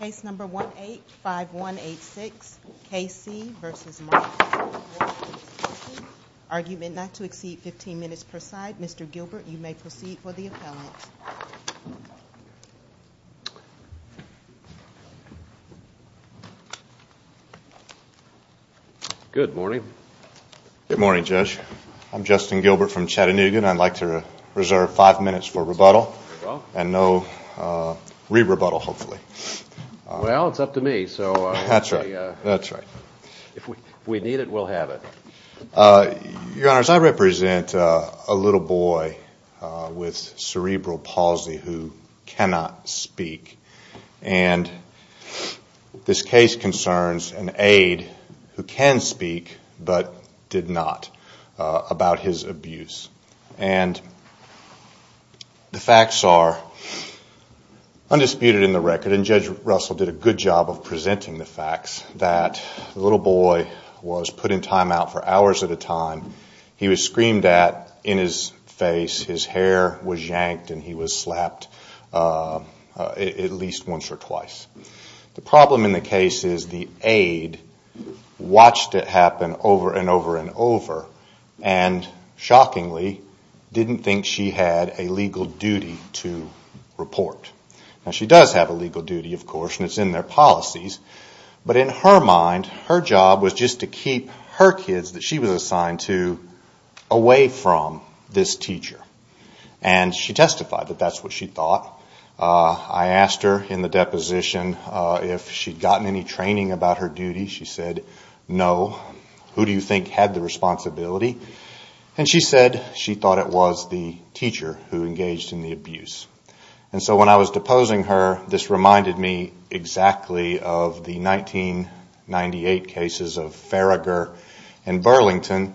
Case number 185186 K C v. Marshall Cnty argument not to exceed 15 minutes per side. Mr. Gilbert you may proceed for the appellant. Good morning. Good morning Judge. I'm Justin Gilbert from Well, it's up to me. That's right. If we need it, we'll have it. Your Honor, I represent a little boy with cerebral palsy who cannot speak and this case concerns an aide who can speak but did not about his abuse. And the facts are undisputed in the record and Judge Russell did a good job of presenting the facts that the little boy was put in timeout for hours at a time. He was screamed at in his face. His hair was yanked and he was slapped at least once or twice. The problem in the case is the aide watched it happen over and over and over and shockingly didn't think she had a legal duty to do it. Now she does have a legal duty of course and it's in their policies but in her mind her job was just to keep her kids that she was assigned to away from this teacher. And she testified that that's what she thought. I asked her in the deposition if she'd gotten any training about her duty. She said no. Who do you think had the responsibility? And she said she thought it was the teacher who did it. And this reminded me exactly of the 1998 cases of Farragher and Burlington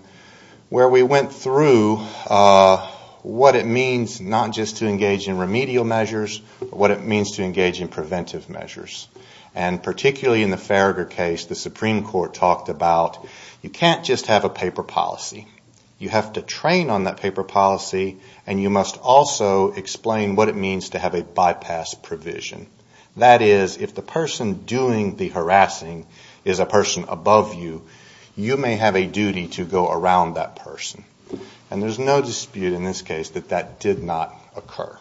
where we went through what it means not just to engage in remedial measures but what it means to engage in preventive measures. And particularly in the Farragher case the Supreme Court talked about you have to train on that paper policy and you must also explain what it means to have a bypass provision. That is if the person doing the harassing is a person above you, you may have a duty to go around that person. And there's no dispute in this case that that did not occur.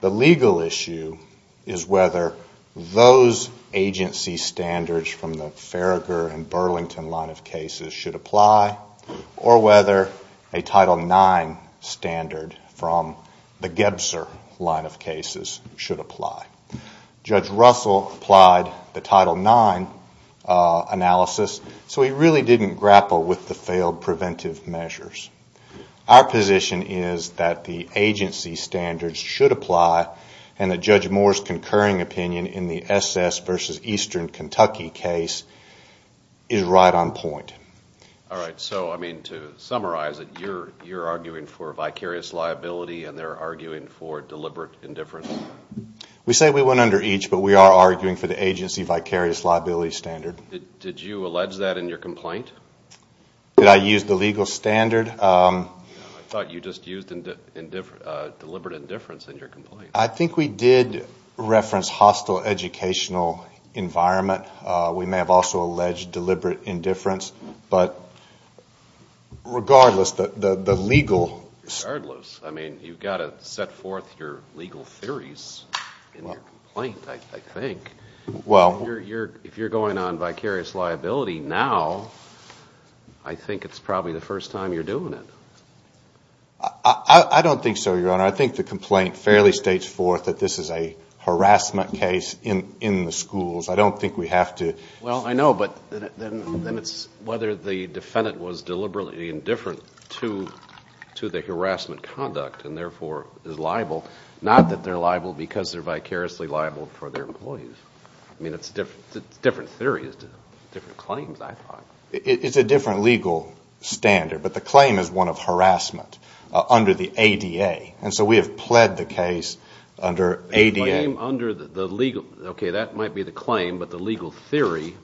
The legal issue is whether those agency standards from the Farragher and Burlington line of cases should apply or whether a Title IX standard from the Gebser line of cases should apply. Judge Russell applied the Title IX analysis so he really didn't grapple with the failed preventive measures. Our position is that the agency standards should apply and that Judge Moore's concurring opinion in the SS versus Eastern Kentucky case is right on point. Alright, so I mean to summarize it, you're arguing for vicarious liability and they're arguing for deliberate indifference? We say we went under each but we are arguing for the agency vicarious liability standard. Did you allege that in your complaint? Did I use the legal standard? I thought you just used deliberate indifference in your complaint. I think we did reference hostile educational environment. We may have also alleged deliberate indifference but regardless the legal... I think it's probably the first time you're doing it. I don't think so, Your Honor. I think the complaint fairly states forth that this is a harassment case in the schools. I don't think we have to... Well, I know but then it's whether the defendant was deliberately indifferent to the harassment conduct and therefore is liable. Not that they're liable because they're vicariously liable for their employees. It's a different theory. It's different claims, I thought. It's a different legal standard but the claim is one of harassment under the ADA and so we have pled the case under ADA. Okay, that might be the claim but the legal theory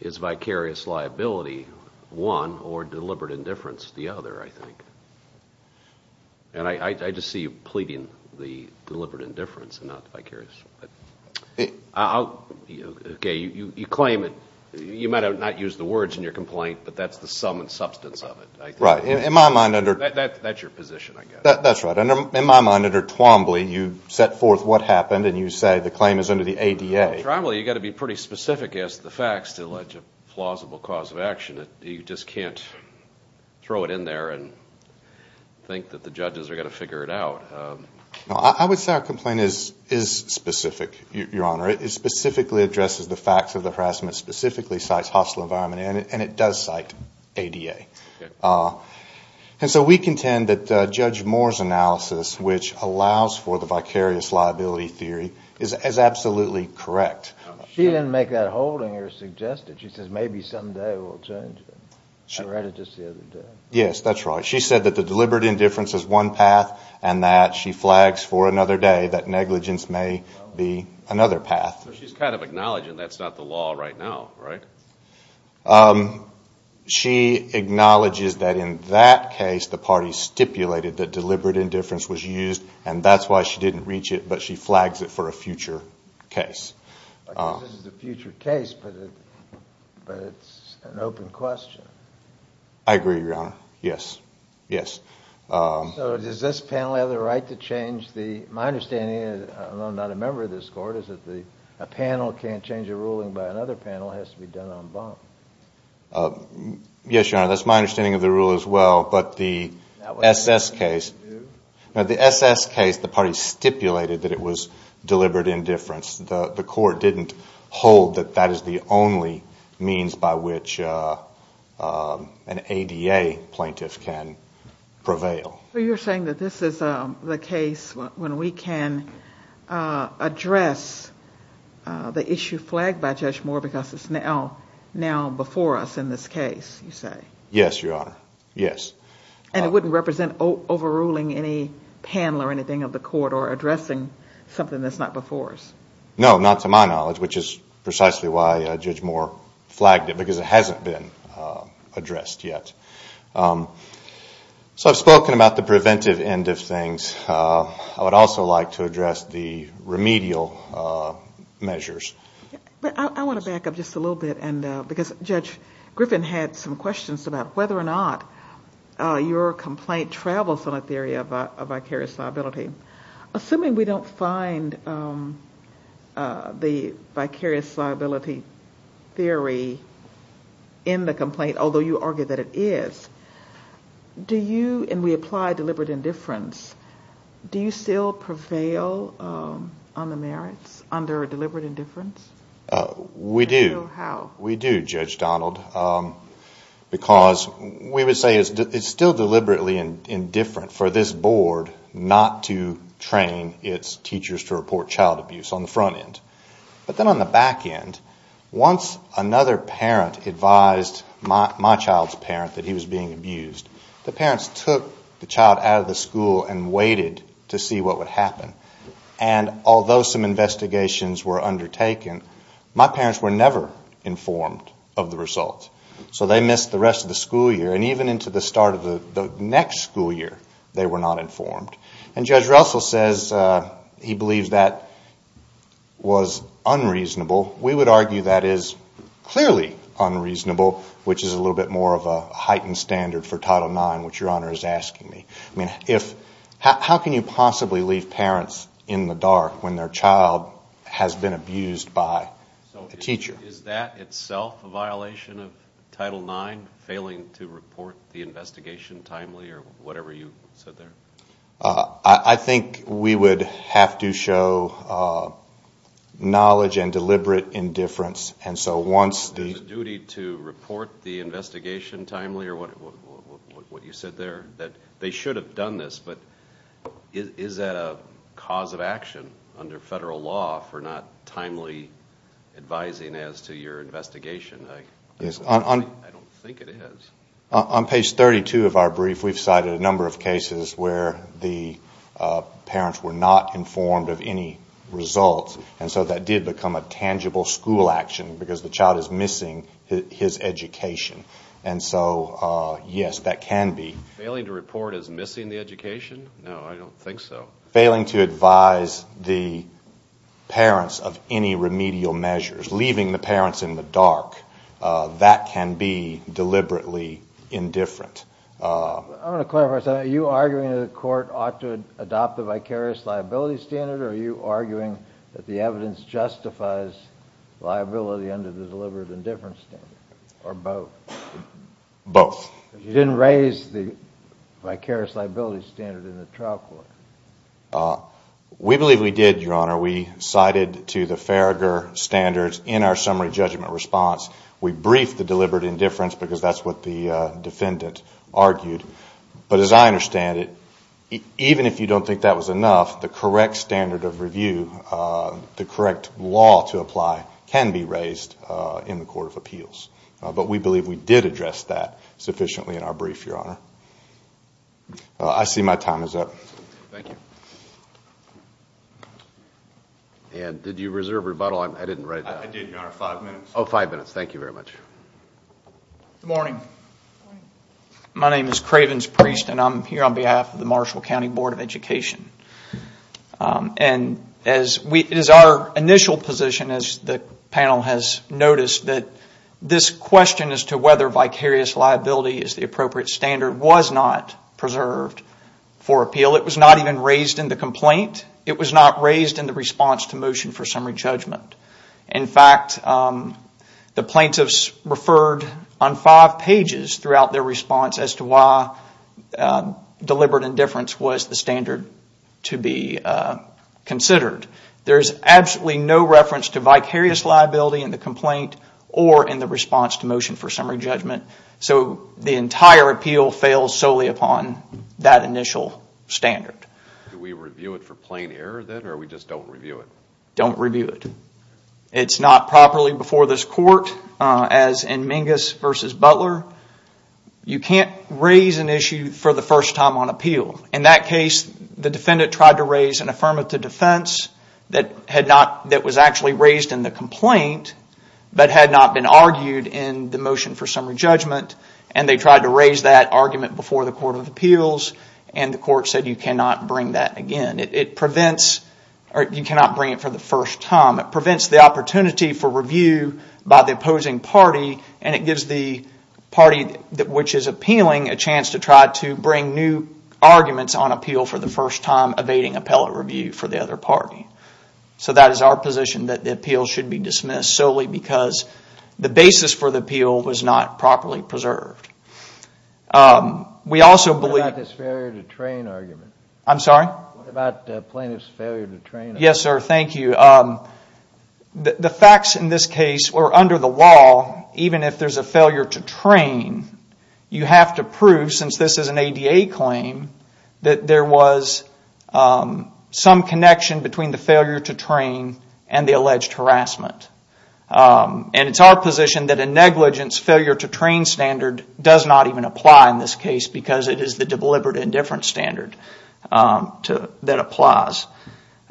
is vicarious liability, one, or deliberate indifference, the other, I think. I just see you pleading the deliberate indifference and not vicarious. Okay, you claim it. You might not have used the words in your complaint but that's the sum and substance of it. Right. In my mind under... That's your position, I guess. That's right. In my mind under Twombly, you set forth what happened and you say the claim is under the ADA. Twombly, you've got to be pretty specific as to the facts to allege a plausible cause of action. You just can't throw it in there and think that the judges are going to figure it out. I would say our complaint is specific, Your Honor. It specifically addresses the facts of the harassment, specifically cites hostile environment and it does cite ADA. And so we contend that Judge Moore's analysis which allows for the vicarious liability theory is absolutely correct. She didn't make that holding or suggest it. She says maybe someday we'll change it. I read it just the other day. Yes, that's right. She said that the deliberate indifference is one path and that she flags for another day that negligence may be another path. So she's kind of acknowledging that's not the law right now, right? She acknowledges that in that case the party stipulated that deliberate indifference was used and that's why she didn't reach it, but she flags it for a future case. This is a future case, but it's an open question. I agree, Your Honor. Yes. So does this panel have the right to change the, my understanding, I'm not a member of this court, is that a panel can't change a ruling by another panel, it has to be done on bond? Yes, Your Honor, that's my understanding of the rule as well, but the SS case, the SS case the party stipulated that it was deliberate indifference. The court didn't hold that that is the only means by which an ADA plaintiff can prevail. So you're saying that this is the case when we can address the issue flagged by Judge Moore because it's now before us in this case, you say? Yes, Your Honor, yes. And it wouldn't represent overruling any panel or anything of the court or addressing something that's not before us? No, not to my knowledge, which is precisely why Judge Moore flagged it, because it hasn't been addressed yet. So I've spoken about the preventive end of things. I would also like to address the remedial measures. I want to back up just a little bit because Judge Griffin had some questions about whether or not your complaint travels on a theory of vicarious liability. Assuming we don't find the vicarious liability theory in the complaint, although you argue that it is, do you, and we apply deliberate indifference, do you still prevail on the merits under deliberate indifference? We do. How? We do, Judge Donald, because we would say it's still deliberately indifferent for this board not to train its teachers to report child abuse on the front end. But then on the back end, once another parent advised my child's parent that he was being abused, the parents took the child out of the school and waited to see what would happen. And although some investigations were undertaken, my parents were never informed of the results. So they missed the rest of the school year, and even into the start of the next school year, they were not informed. And Judge Russell says he believes that was unreasonable. We would argue that is clearly unreasonable, which is a little bit more of a heightened standard for Title IX, which Your Honor is asking me. I mean, how can you possibly leave parents in the dark when their child has been abused by a teacher? Is that itself a violation of Title IX, failing to report the investigation timely or whatever you said there? I think we would have to show knowledge and deliberate indifference. Is it a duty to report the investigation timely or what you said there, that they should have done this, but is that a cause of action under federal law for not timely advising as to your investigation? I don't think it is. On page 32 of our brief, we've cited a number of cases where the parents were not informed of any results, and so that did become a tangible school action because the child is missing his education. And so, yes, that can be. Failing to report is missing the education? No, I don't think so. Failing to advise the parents of any remedial measures, leaving the parents in the dark, that can be deliberately indifferent. I want to clarify something. Are you arguing that the court ought to adopt the vicarious liability standard, or are you arguing that the evidence justifies liability under the deliberate indifference standard, or both? Both. You didn't raise the vicarious liability standard in the trial court. We believe we did, Your Honor. We cited to the Farragher standards in our summary judgment response. We briefed the deliberate indifference because that's what the defendant argued. But as I understand it, even if you don't think that was enough, the correct standard of review, the correct law to apply, can be raised in the Court of Appeals. But we believe we did address that sufficiently in our brief, Your Honor. I see my time is up. Thank you. And did you reserve rebuttal? I didn't write that. I did, Your Honor, five minutes. Oh, five minutes. Thank you very much. Good morning. My name is Cravens Priest, and I'm here on behalf of the Marshall County Board of Education. And it is our initial position, as the panel has noticed, that this question as to whether vicarious liability is the appropriate standard was not preserved for appeal. It was not even raised in the complaint. It was not raised in the response to motion for summary judgment. In fact, the plaintiffs referred on five pages throughout their response as to why deliberate indifference was the standard to be considered. There is absolutely no reference to vicarious liability in the complaint or in the response to motion for summary judgment. So the entire appeal fails solely upon that initial standard. Do we review it for plain error, then, or we just don't review it? Don't review it. It's not properly before this court, as in Mingus v. Butler. You can't raise an issue for the first time on appeal. In that case, the defendant tried to raise an affirmative defense that was actually raised in the complaint, but had not been argued in the motion for summary judgment. And they tried to raise that argument before the Court of Appeals, and the court said you cannot bring that again. It prevents, or you cannot bring it for the first time. It prevents the opportunity for review by the opposing party, and it gives the party which is appealing a chance to try to bring new arguments on appeal for the first time, evading appellate review for the other party. So that is our position, that the appeal should be dismissed solely because the basis for the appeal was not properly preserved. What about this failure to train argument? I'm sorry? What about the plaintiff's failure to train argument? Yes, sir, thank you. The facts in this case are under the law, even if there's a failure to train, you have to prove, since this is an ADA claim, that there was some connection between the failure to train and the alleged harassment. And it's our position that a negligence failure to train standard does not even apply in this case, because it is the deliberate indifference standard that applies.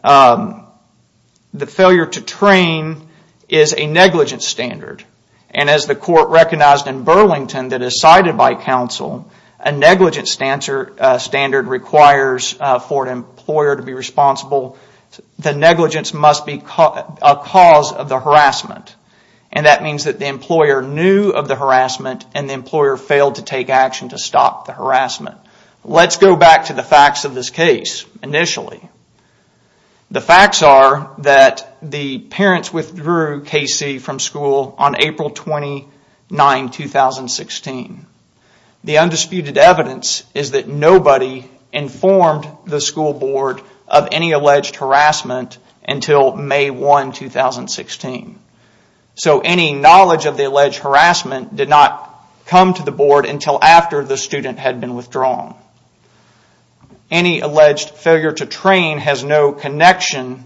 The failure to train is a negligence standard, and as the court recognized in Burlington that is cited by counsel, a negligence standard requires for an employer to be responsible. The negligence must be a cause of the harassment, and that means that the employer knew of the harassment and the employer failed to take action to stop the harassment. Let's go back to the facts of this case initially. The facts are that the parents withdrew Casey from school on April 29, 2016. The undisputed evidence is that nobody informed the school board of any alleged harassment until May 1, 2016. So any knowledge of the alleged harassment did not come to the board until after the student had been withdrawn. Any alleged failure to train has no connection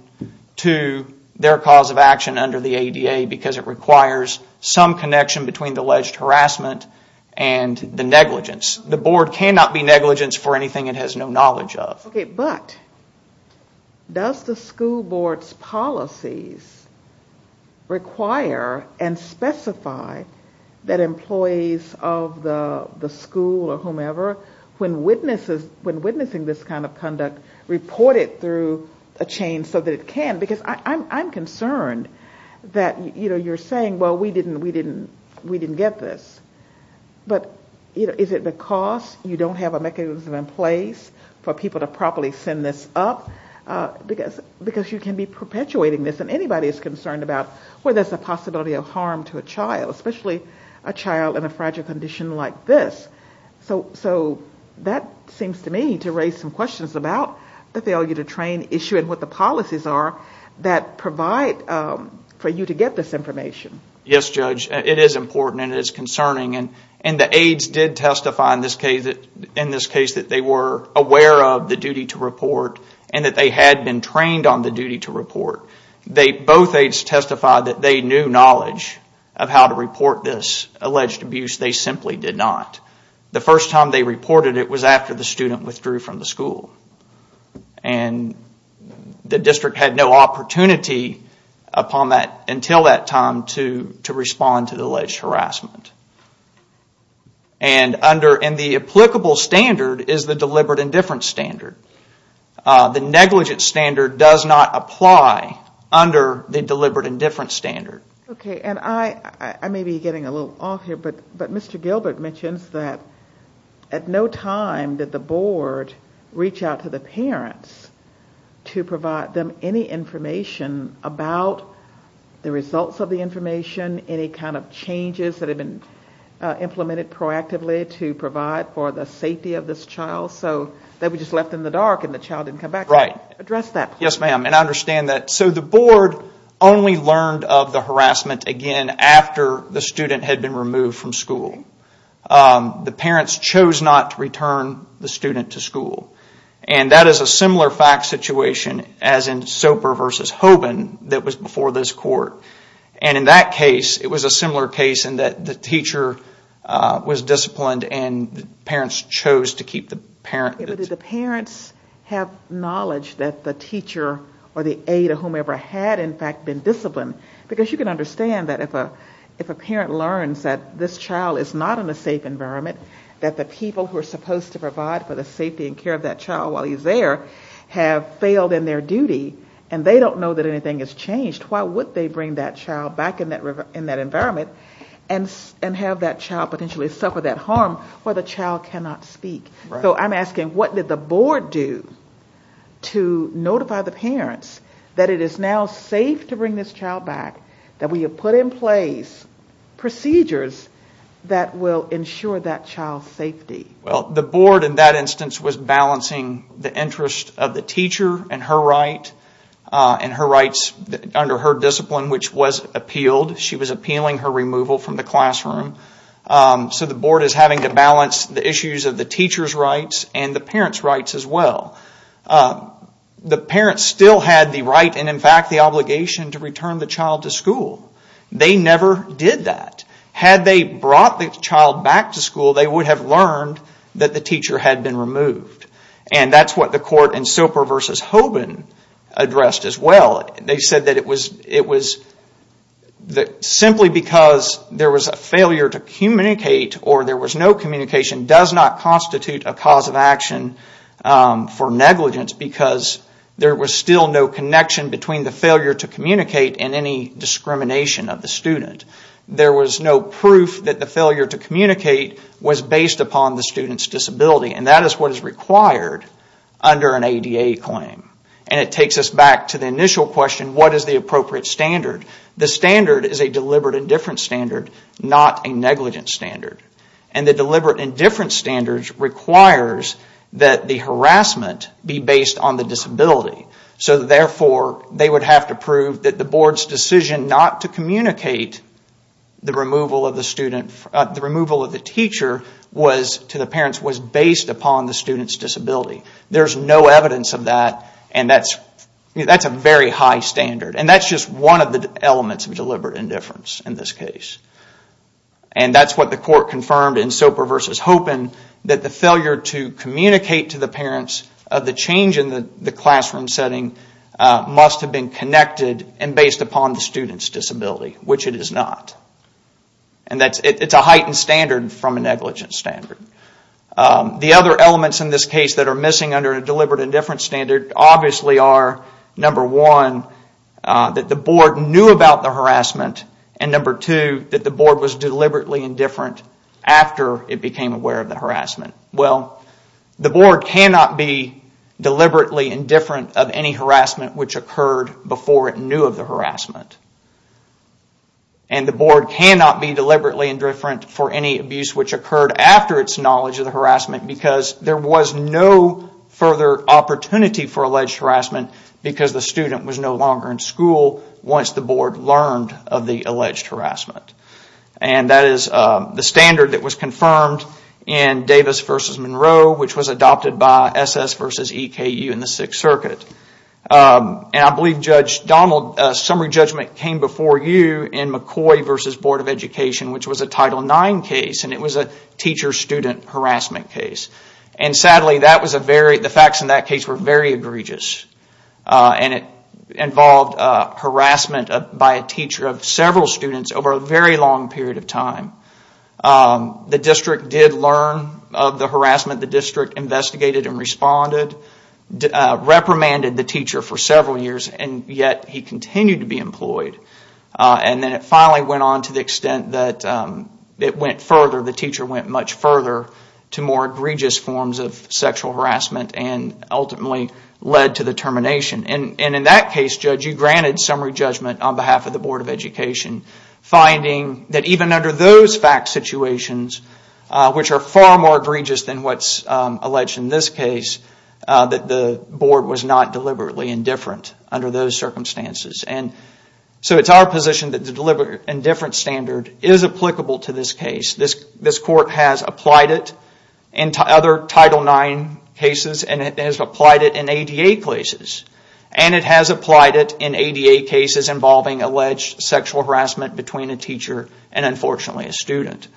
to their cause of action under the ADA because it requires some connection between the alleged harassment and the negligence. The board cannot be negligent for anything it has no knowledge of. But does the school board's policies require and specify that employees of the school or whomever, when witnessing this kind of conduct, report it through a chain so that it can? Because I'm concerned that you're saying, well, we didn't get this. But is it because you don't have a mechanism in place for people to properly send this up? Because you can be perpetuating this, and anybody is concerned about where there's a possibility of harm to a child, especially a child in a fragile condition like this. So that seems to me to raise some questions about the failure to train issue and what the policies are that provide for you to get this information. Yes, Judge. It is important and it is concerning. And the aides did testify in this case that they were aware of the duty to report and that they had been trained on the duty to report. Both aides testified that they knew knowledge of how to report this alleged abuse. They simply did not. The first time they reported it was after the student withdrew from the school. And the district had no opportunity until that time to respond to the alleged harassment. And the applicable standard is the deliberate indifference standard. The negligent standard does not apply under the deliberate indifference standard. Okay. And I may be getting a little off here, but Mr. Gilbert mentions that at no time did the board reach out to the parents to provide them any information about the results of the information, any kind of changes that had been implemented proactively to provide for the safety of this child. So they were just left in the dark and the child didn't come back. Right. Address that. Yes, ma'am. And I understand that. So the board only learned of the harassment again after the student had been removed from school. The parents chose not to return the student to school. And that is a similar fact situation as in Soper v. Hoban that was before this court. And in that case, it was a similar case in that the teacher was disciplined and the parents chose to keep the parent. But did the parents have knowledge that the teacher or the aide or whomever had in fact been disciplined? Because you can understand that if a parent learns that this child is not in a safe environment, that the people who are supposed to provide for the safety and care of that child while he's there have failed in their duty and they don't know that anything has changed, why would they bring that child back in that environment and have that child potentially suffer that harm where the child cannot speak? So I'm asking, what did the board do to notify the parents that it is now safe to bring this child back, that we have put in place procedures that will ensure that child's safety? Well, the board in that instance was balancing the interest of the teacher and her rights under her discipline, which was appealed. She was appealing her removal from the classroom. So the board is having to balance the issues of the teacher's rights and the parents' rights as well. The parents still had the right and in fact the obligation to return the child to school. They never did that. Had they brought the child back to school, they would have learned that the teacher had been removed. And that's what the court in Soper v. Hoban addressed as well. They said that simply because there was a failure to communicate or there was no communication does not constitute a cause of action for negligence because there was still no connection between the failure to communicate and any discrimination of the student. There was no proof that the failure to communicate was based upon the student's disability. And that is what is required under an ADA claim. And it takes us back to the initial question, what is the appropriate standard? The standard is a deliberate indifference standard, not a negligence standard. And the deliberate indifference standard requires that the harassment be based on the disability. So therefore, they would have to prove that the board's decision not to communicate the removal of the teacher to the parents was based upon the student's disability. There's no evidence of that and that's a very high standard. And that's just one of the elements of deliberate indifference in this case. And that's what the court confirmed in Soper v. Hoban, that the failure to communicate to the parents of the change in the classroom setting must have been connected and based upon the student's disability, which it is not. And it's a heightened standard from a negligence standard. The other elements in this case that are missing under a deliberate indifference standard obviously are, number one, that the board knew about the harassment, and number two, that the board was deliberately indifferent after it became aware of the harassment. Well, the board cannot be deliberately indifferent of any harassment which occurred before it knew of the harassment. And the board cannot be deliberately indifferent for any abuse which occurred after its knowledge of the harassment because there was no further opportunity for alleged harassment because the student was no longer in school once the board learned of the alleged harassment. And that is the standard that was confirmed in Davis v. Monroe, which was adopted by SS v. EKU in the Sixth Circuit. And I believe Judge Donald, summary judgment came before you in McCoy v. Board of Education, which was a Title IX case, and it was a teacher-student harassment case. And sadly, the facts in that case were very egregious, and it involved harassment by a teacher of several students over a very long period of time. The district did learn of the harassment. The district investigated and responded. The board reprimanded the teacher for several years, and yet he continued to be employed. And then it finally went on to the extent that it went further, the teacher went much further to more egregious forms of sexual harassment and ultimately led to the termination. And in that case, Judge, you granted summary judgment on behalf of the Board of Education, finding that even under those fact situations, which are far more egregious than what's alleged in this case, that the board was not deliberately indifferent under those circumstances. So it's our position that the deliberate indifference standard is applicable to this case. This court has applied it in other Title IX cases, and it has applied it in ADA cases. And it has applied it in ADA cases involving alleged sexual harassment between a teacher and, unfortunately, a student.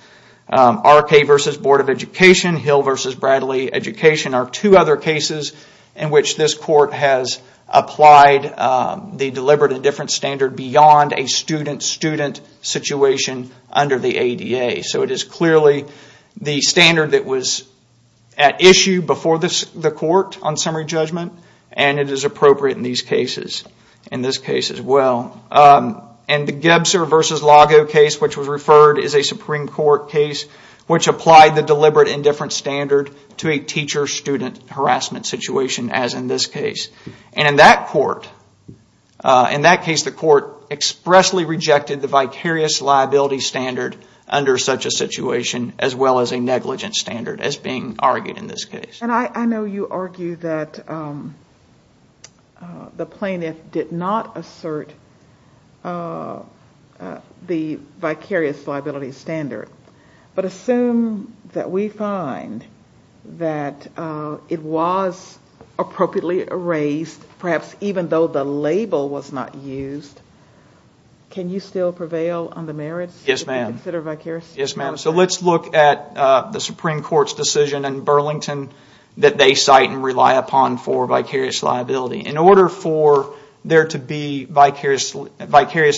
R.K. v. Board of Education, Hill v. Bradley Education are two other cases in which this court has applied the deliberate indifference standard beyond a student-student situation under the ADA. So it is clearly the standard that was at issue before the court on summary judgment, and it is appropriate in these cases, in this case as well. And the Gebser v. Lago case, which was referred as a Supreme Court case, which applied the deliberate indifference standard to a teacher-student harassment situation, as in this case. And in that case, the court expressly rejected the vicarious liability standard under such a situation, as well as a negligent standard, as being argued in this case. And I know you argue that the plaintiff did not assert the vicarious liability standard. But assume that we find that it was appropriately erased, perhaps even though the label was not used, can you still prevail on the merits? Yes, ma'am. So let's look at the Supreme Court's decision in Burlington that they cite and rely upon for vicarious liability. In order for there to be vicarious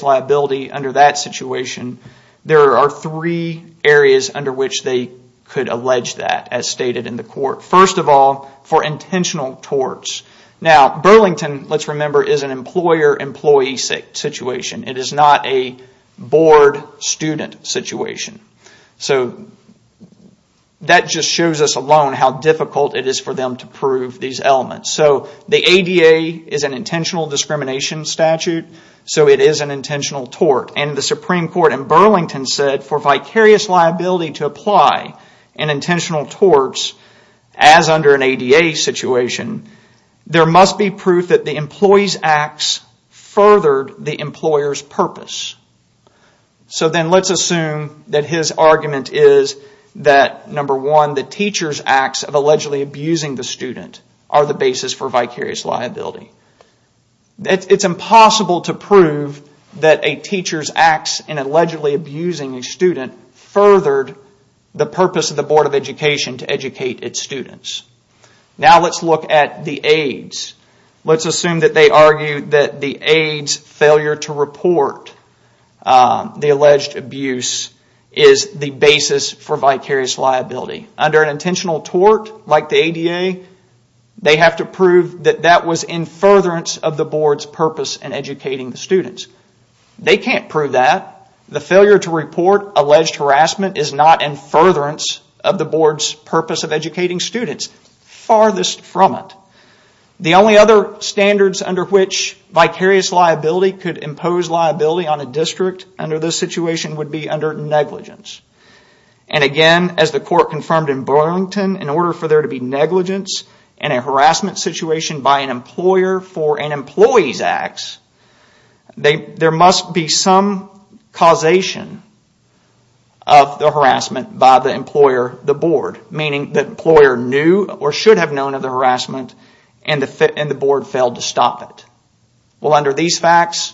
liability under that situation, there are three areas under which they could allege that, as stated in the court. First of all, for intentional torts. Burlington, let's remember, is an employer-employee situation. It is not a board-student situation. So that just shows us alone how difficult it is for them to prove these elements. So the ADA is an intentional discrimination statute, so it is an intentional tort. And the Supreme Court in Burlington said, for vicarious liability to apply in intentional torts, as under an ADA situation, there must be proof that the employee's acts furthered the employer's purpose. So then let's assume that his argument is that, number one, the teacher's acts of allegedly abusing the student are the basis for vicarious liability. It's impossible to prove that a teacher's acts in allegedly abusing a student furthered the purpose of the Board of Education to educate its students. Now let's look at the aides. Let's assume that they argue that the aides' failure to report the alleged abuse is the basis for vicarious liability. Under an intentional tort, like the ADA, they have to prove that that was in furtherance of the Board's purpose in educating the students. They can't prove that. The failure to report alleged harassment is not in furtherance of the Board's purpose of educating students. Farthest from it. The only other standards under which vicarious liability could impose liability on a district under this situation would be under negligence. And again, as the court confirmed in Burlington, in order for there to be negligence in a harassment situation by an employer for an employee's acts, there must be some causation of the harassment by the employer, the board, meaning the employer knew or should have known of the harassment and the board failed to stop it. Well, under these facts,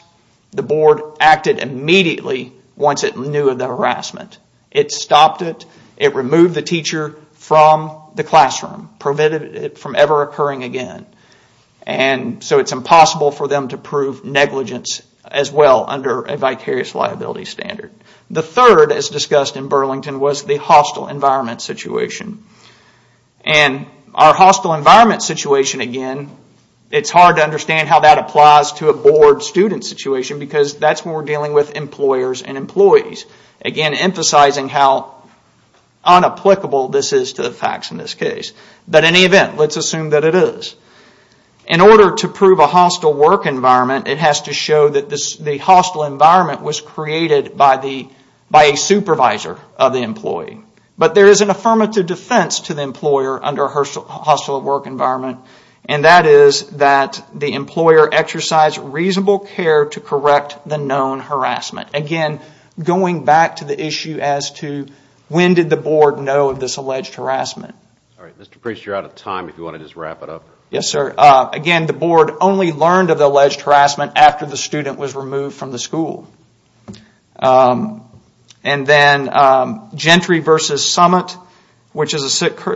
the board acted immediately once it knew of the harassment. It stopped it. It removed the teacher from the classroom, prevented it from ever occurring again. So it's impossible for them to prove negligence as well under a vicarious liability standard. The third, as discussed in Burlington, was the hostile environment situation. And our hostile environment situation, again, it's hard to understand how that applies to a board student situation because that's when we're dealing with employers and employees. Again, emphasizing how unapplicable this is to the facts in this case. But in any event, let's assume that it is. In order to prove a hostile work environment, it has to show that the hostile environment was created by a supervisor of the employee. But there is an affirmative defense to the employer under a hostile work environment and that is that the employer exercised reasonable care to correct the known harassment. Again, going back to the issue as to when did the board know of this alleged harassment. Alright, Mr. Priest, you're out of time. If you want to just wrap it up. Yes, sir. Again, the board only learned of the alleged harassment after the student was removed from the school. And then Gentry v. Summit, which is a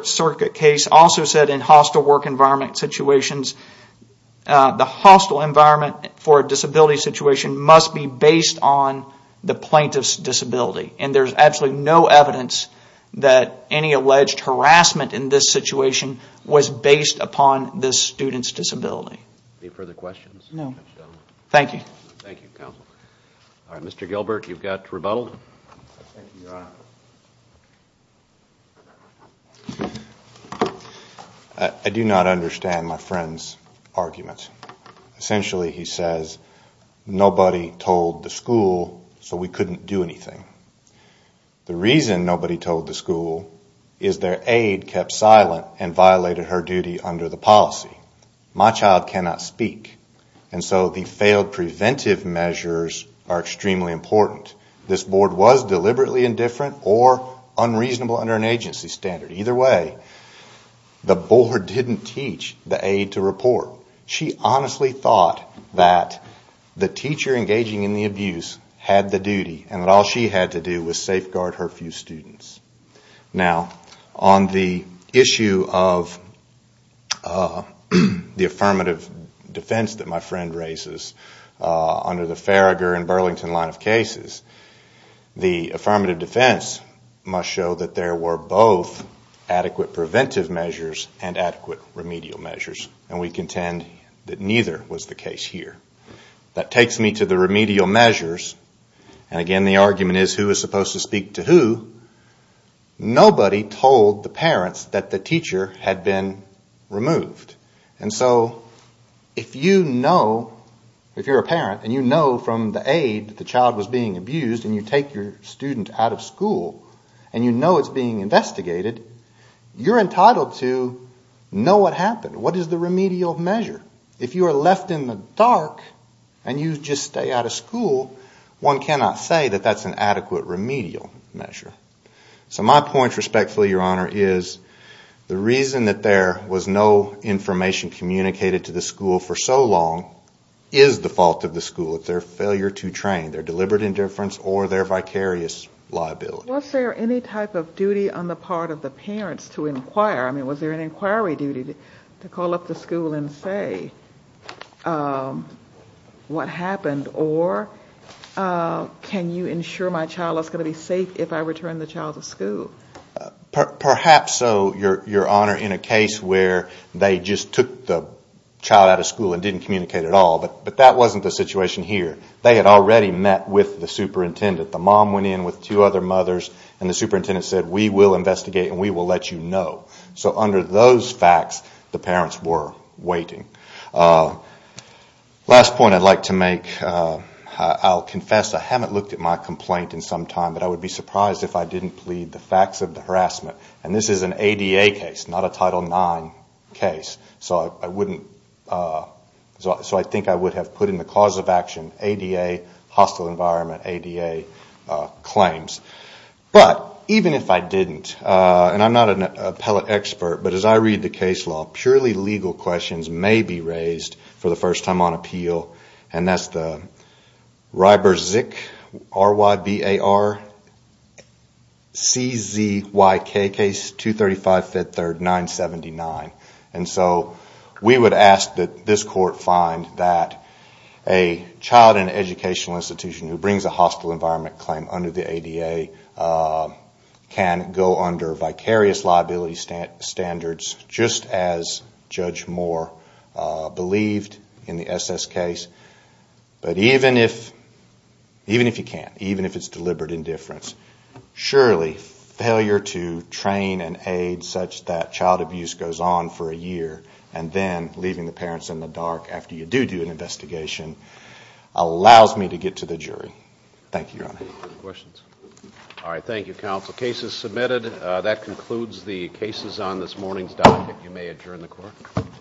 circuit case, also said in hostile work environment situations, the hostile environment for a disability situation must be based on the plaintiff's disability. And there's absolutely no evidence that any alleged harassment in this situation was based upon this student's disability. Any further questions? No. Thank you. Thank you, counsel. Alright, Mr. Gilbert, you've got rebuttal. Thank you, Your Honor. I do not understand my friend's arguments. Essentially he says, nobody told the school so we couldn't do anything. The reason nobody told the school is their aide kept silent and violated her duty under the policy. My child cannot speak. And so the failed preventive measures are extremely important. This board was deliberately indifferent or unreasonable under an agency standard. Either way, the board didn't teach the aide to report. She honestly thought that the teacher engaging in the abuse had the duty and that all she had to do was safeguard her few students. Now, on the issue of the affirmative defense that my friend raises under the Farragher and Burlington line of cases, the affirmative defense must show that there were both adequate preventive measures and adequate remedial measures. And we contend that neither was the case here. That takes me to the remedial measures. And again, the argument is who is supposed to speak to who. Nobody told the parents that the teacher had been removed. And so if you know, if you're a parent and you know from the aide that the child was being abused and you take your student out of school and you know it's being investigated, you're entitled to know what happened. What is the remedial measure? If you are left in the dark and you just stay out of school, one cannot say that that's an adequate remedial measure. So my point, respectfully, Your Honor, is the reason that there was no information communicated to the school for so long is the fault of the school. It's their failure to train, their deliberate indifference or their vicarious liability. Was there any type of duty on the part of the parents to inquire? I mean, was there an inquiry duty to call up the school and say what happened? Or can you ensure my child is going to be safe if I return the child to school? Perhaps so, Your Honor, in a case where they just took the child out of school and didn't communicate at all. But that wasn't the situation here. They had already met with the superintendent. The mom went in with two other mothers and the superintendent said, we will investigate and we will let you know. So under those facts, the parents were waiting. Last point I'd like to make. I'll confess I haven't looked at my complaint in some time, but I would be surprised if I didn't plead the facts of the harassment. And this is an ADA case, not a Title IX case. So I think I would have put in the cause of action, hostile environment, ADA claims. But even if I didn't, and I'm not an appellate expert, but as I read the case law, purely legal questions may be raised for the first time on appeal. And that's the Rybarczyk, R-Y-B-A-R-C-Z-Y-K case, 235 Ft. 3rd, 979. We would ask that this court find that a child in an educational institution who brings a hostile environment claim under the ADA can go under vicarious liability standards, just as Judge Moore believed in the SS case. But even if you can't, even if it's deliberate indifference, surely failure to train and aid such that child abuse goes on for a year and then leaving the parents in the dark after you do do an investigation allows me to get to the jury. Thank you, Your Honor. Questions? All right, thank you, counsel. Case is submitted. That concludes the cases on this morning's docket. You may adjourn the court.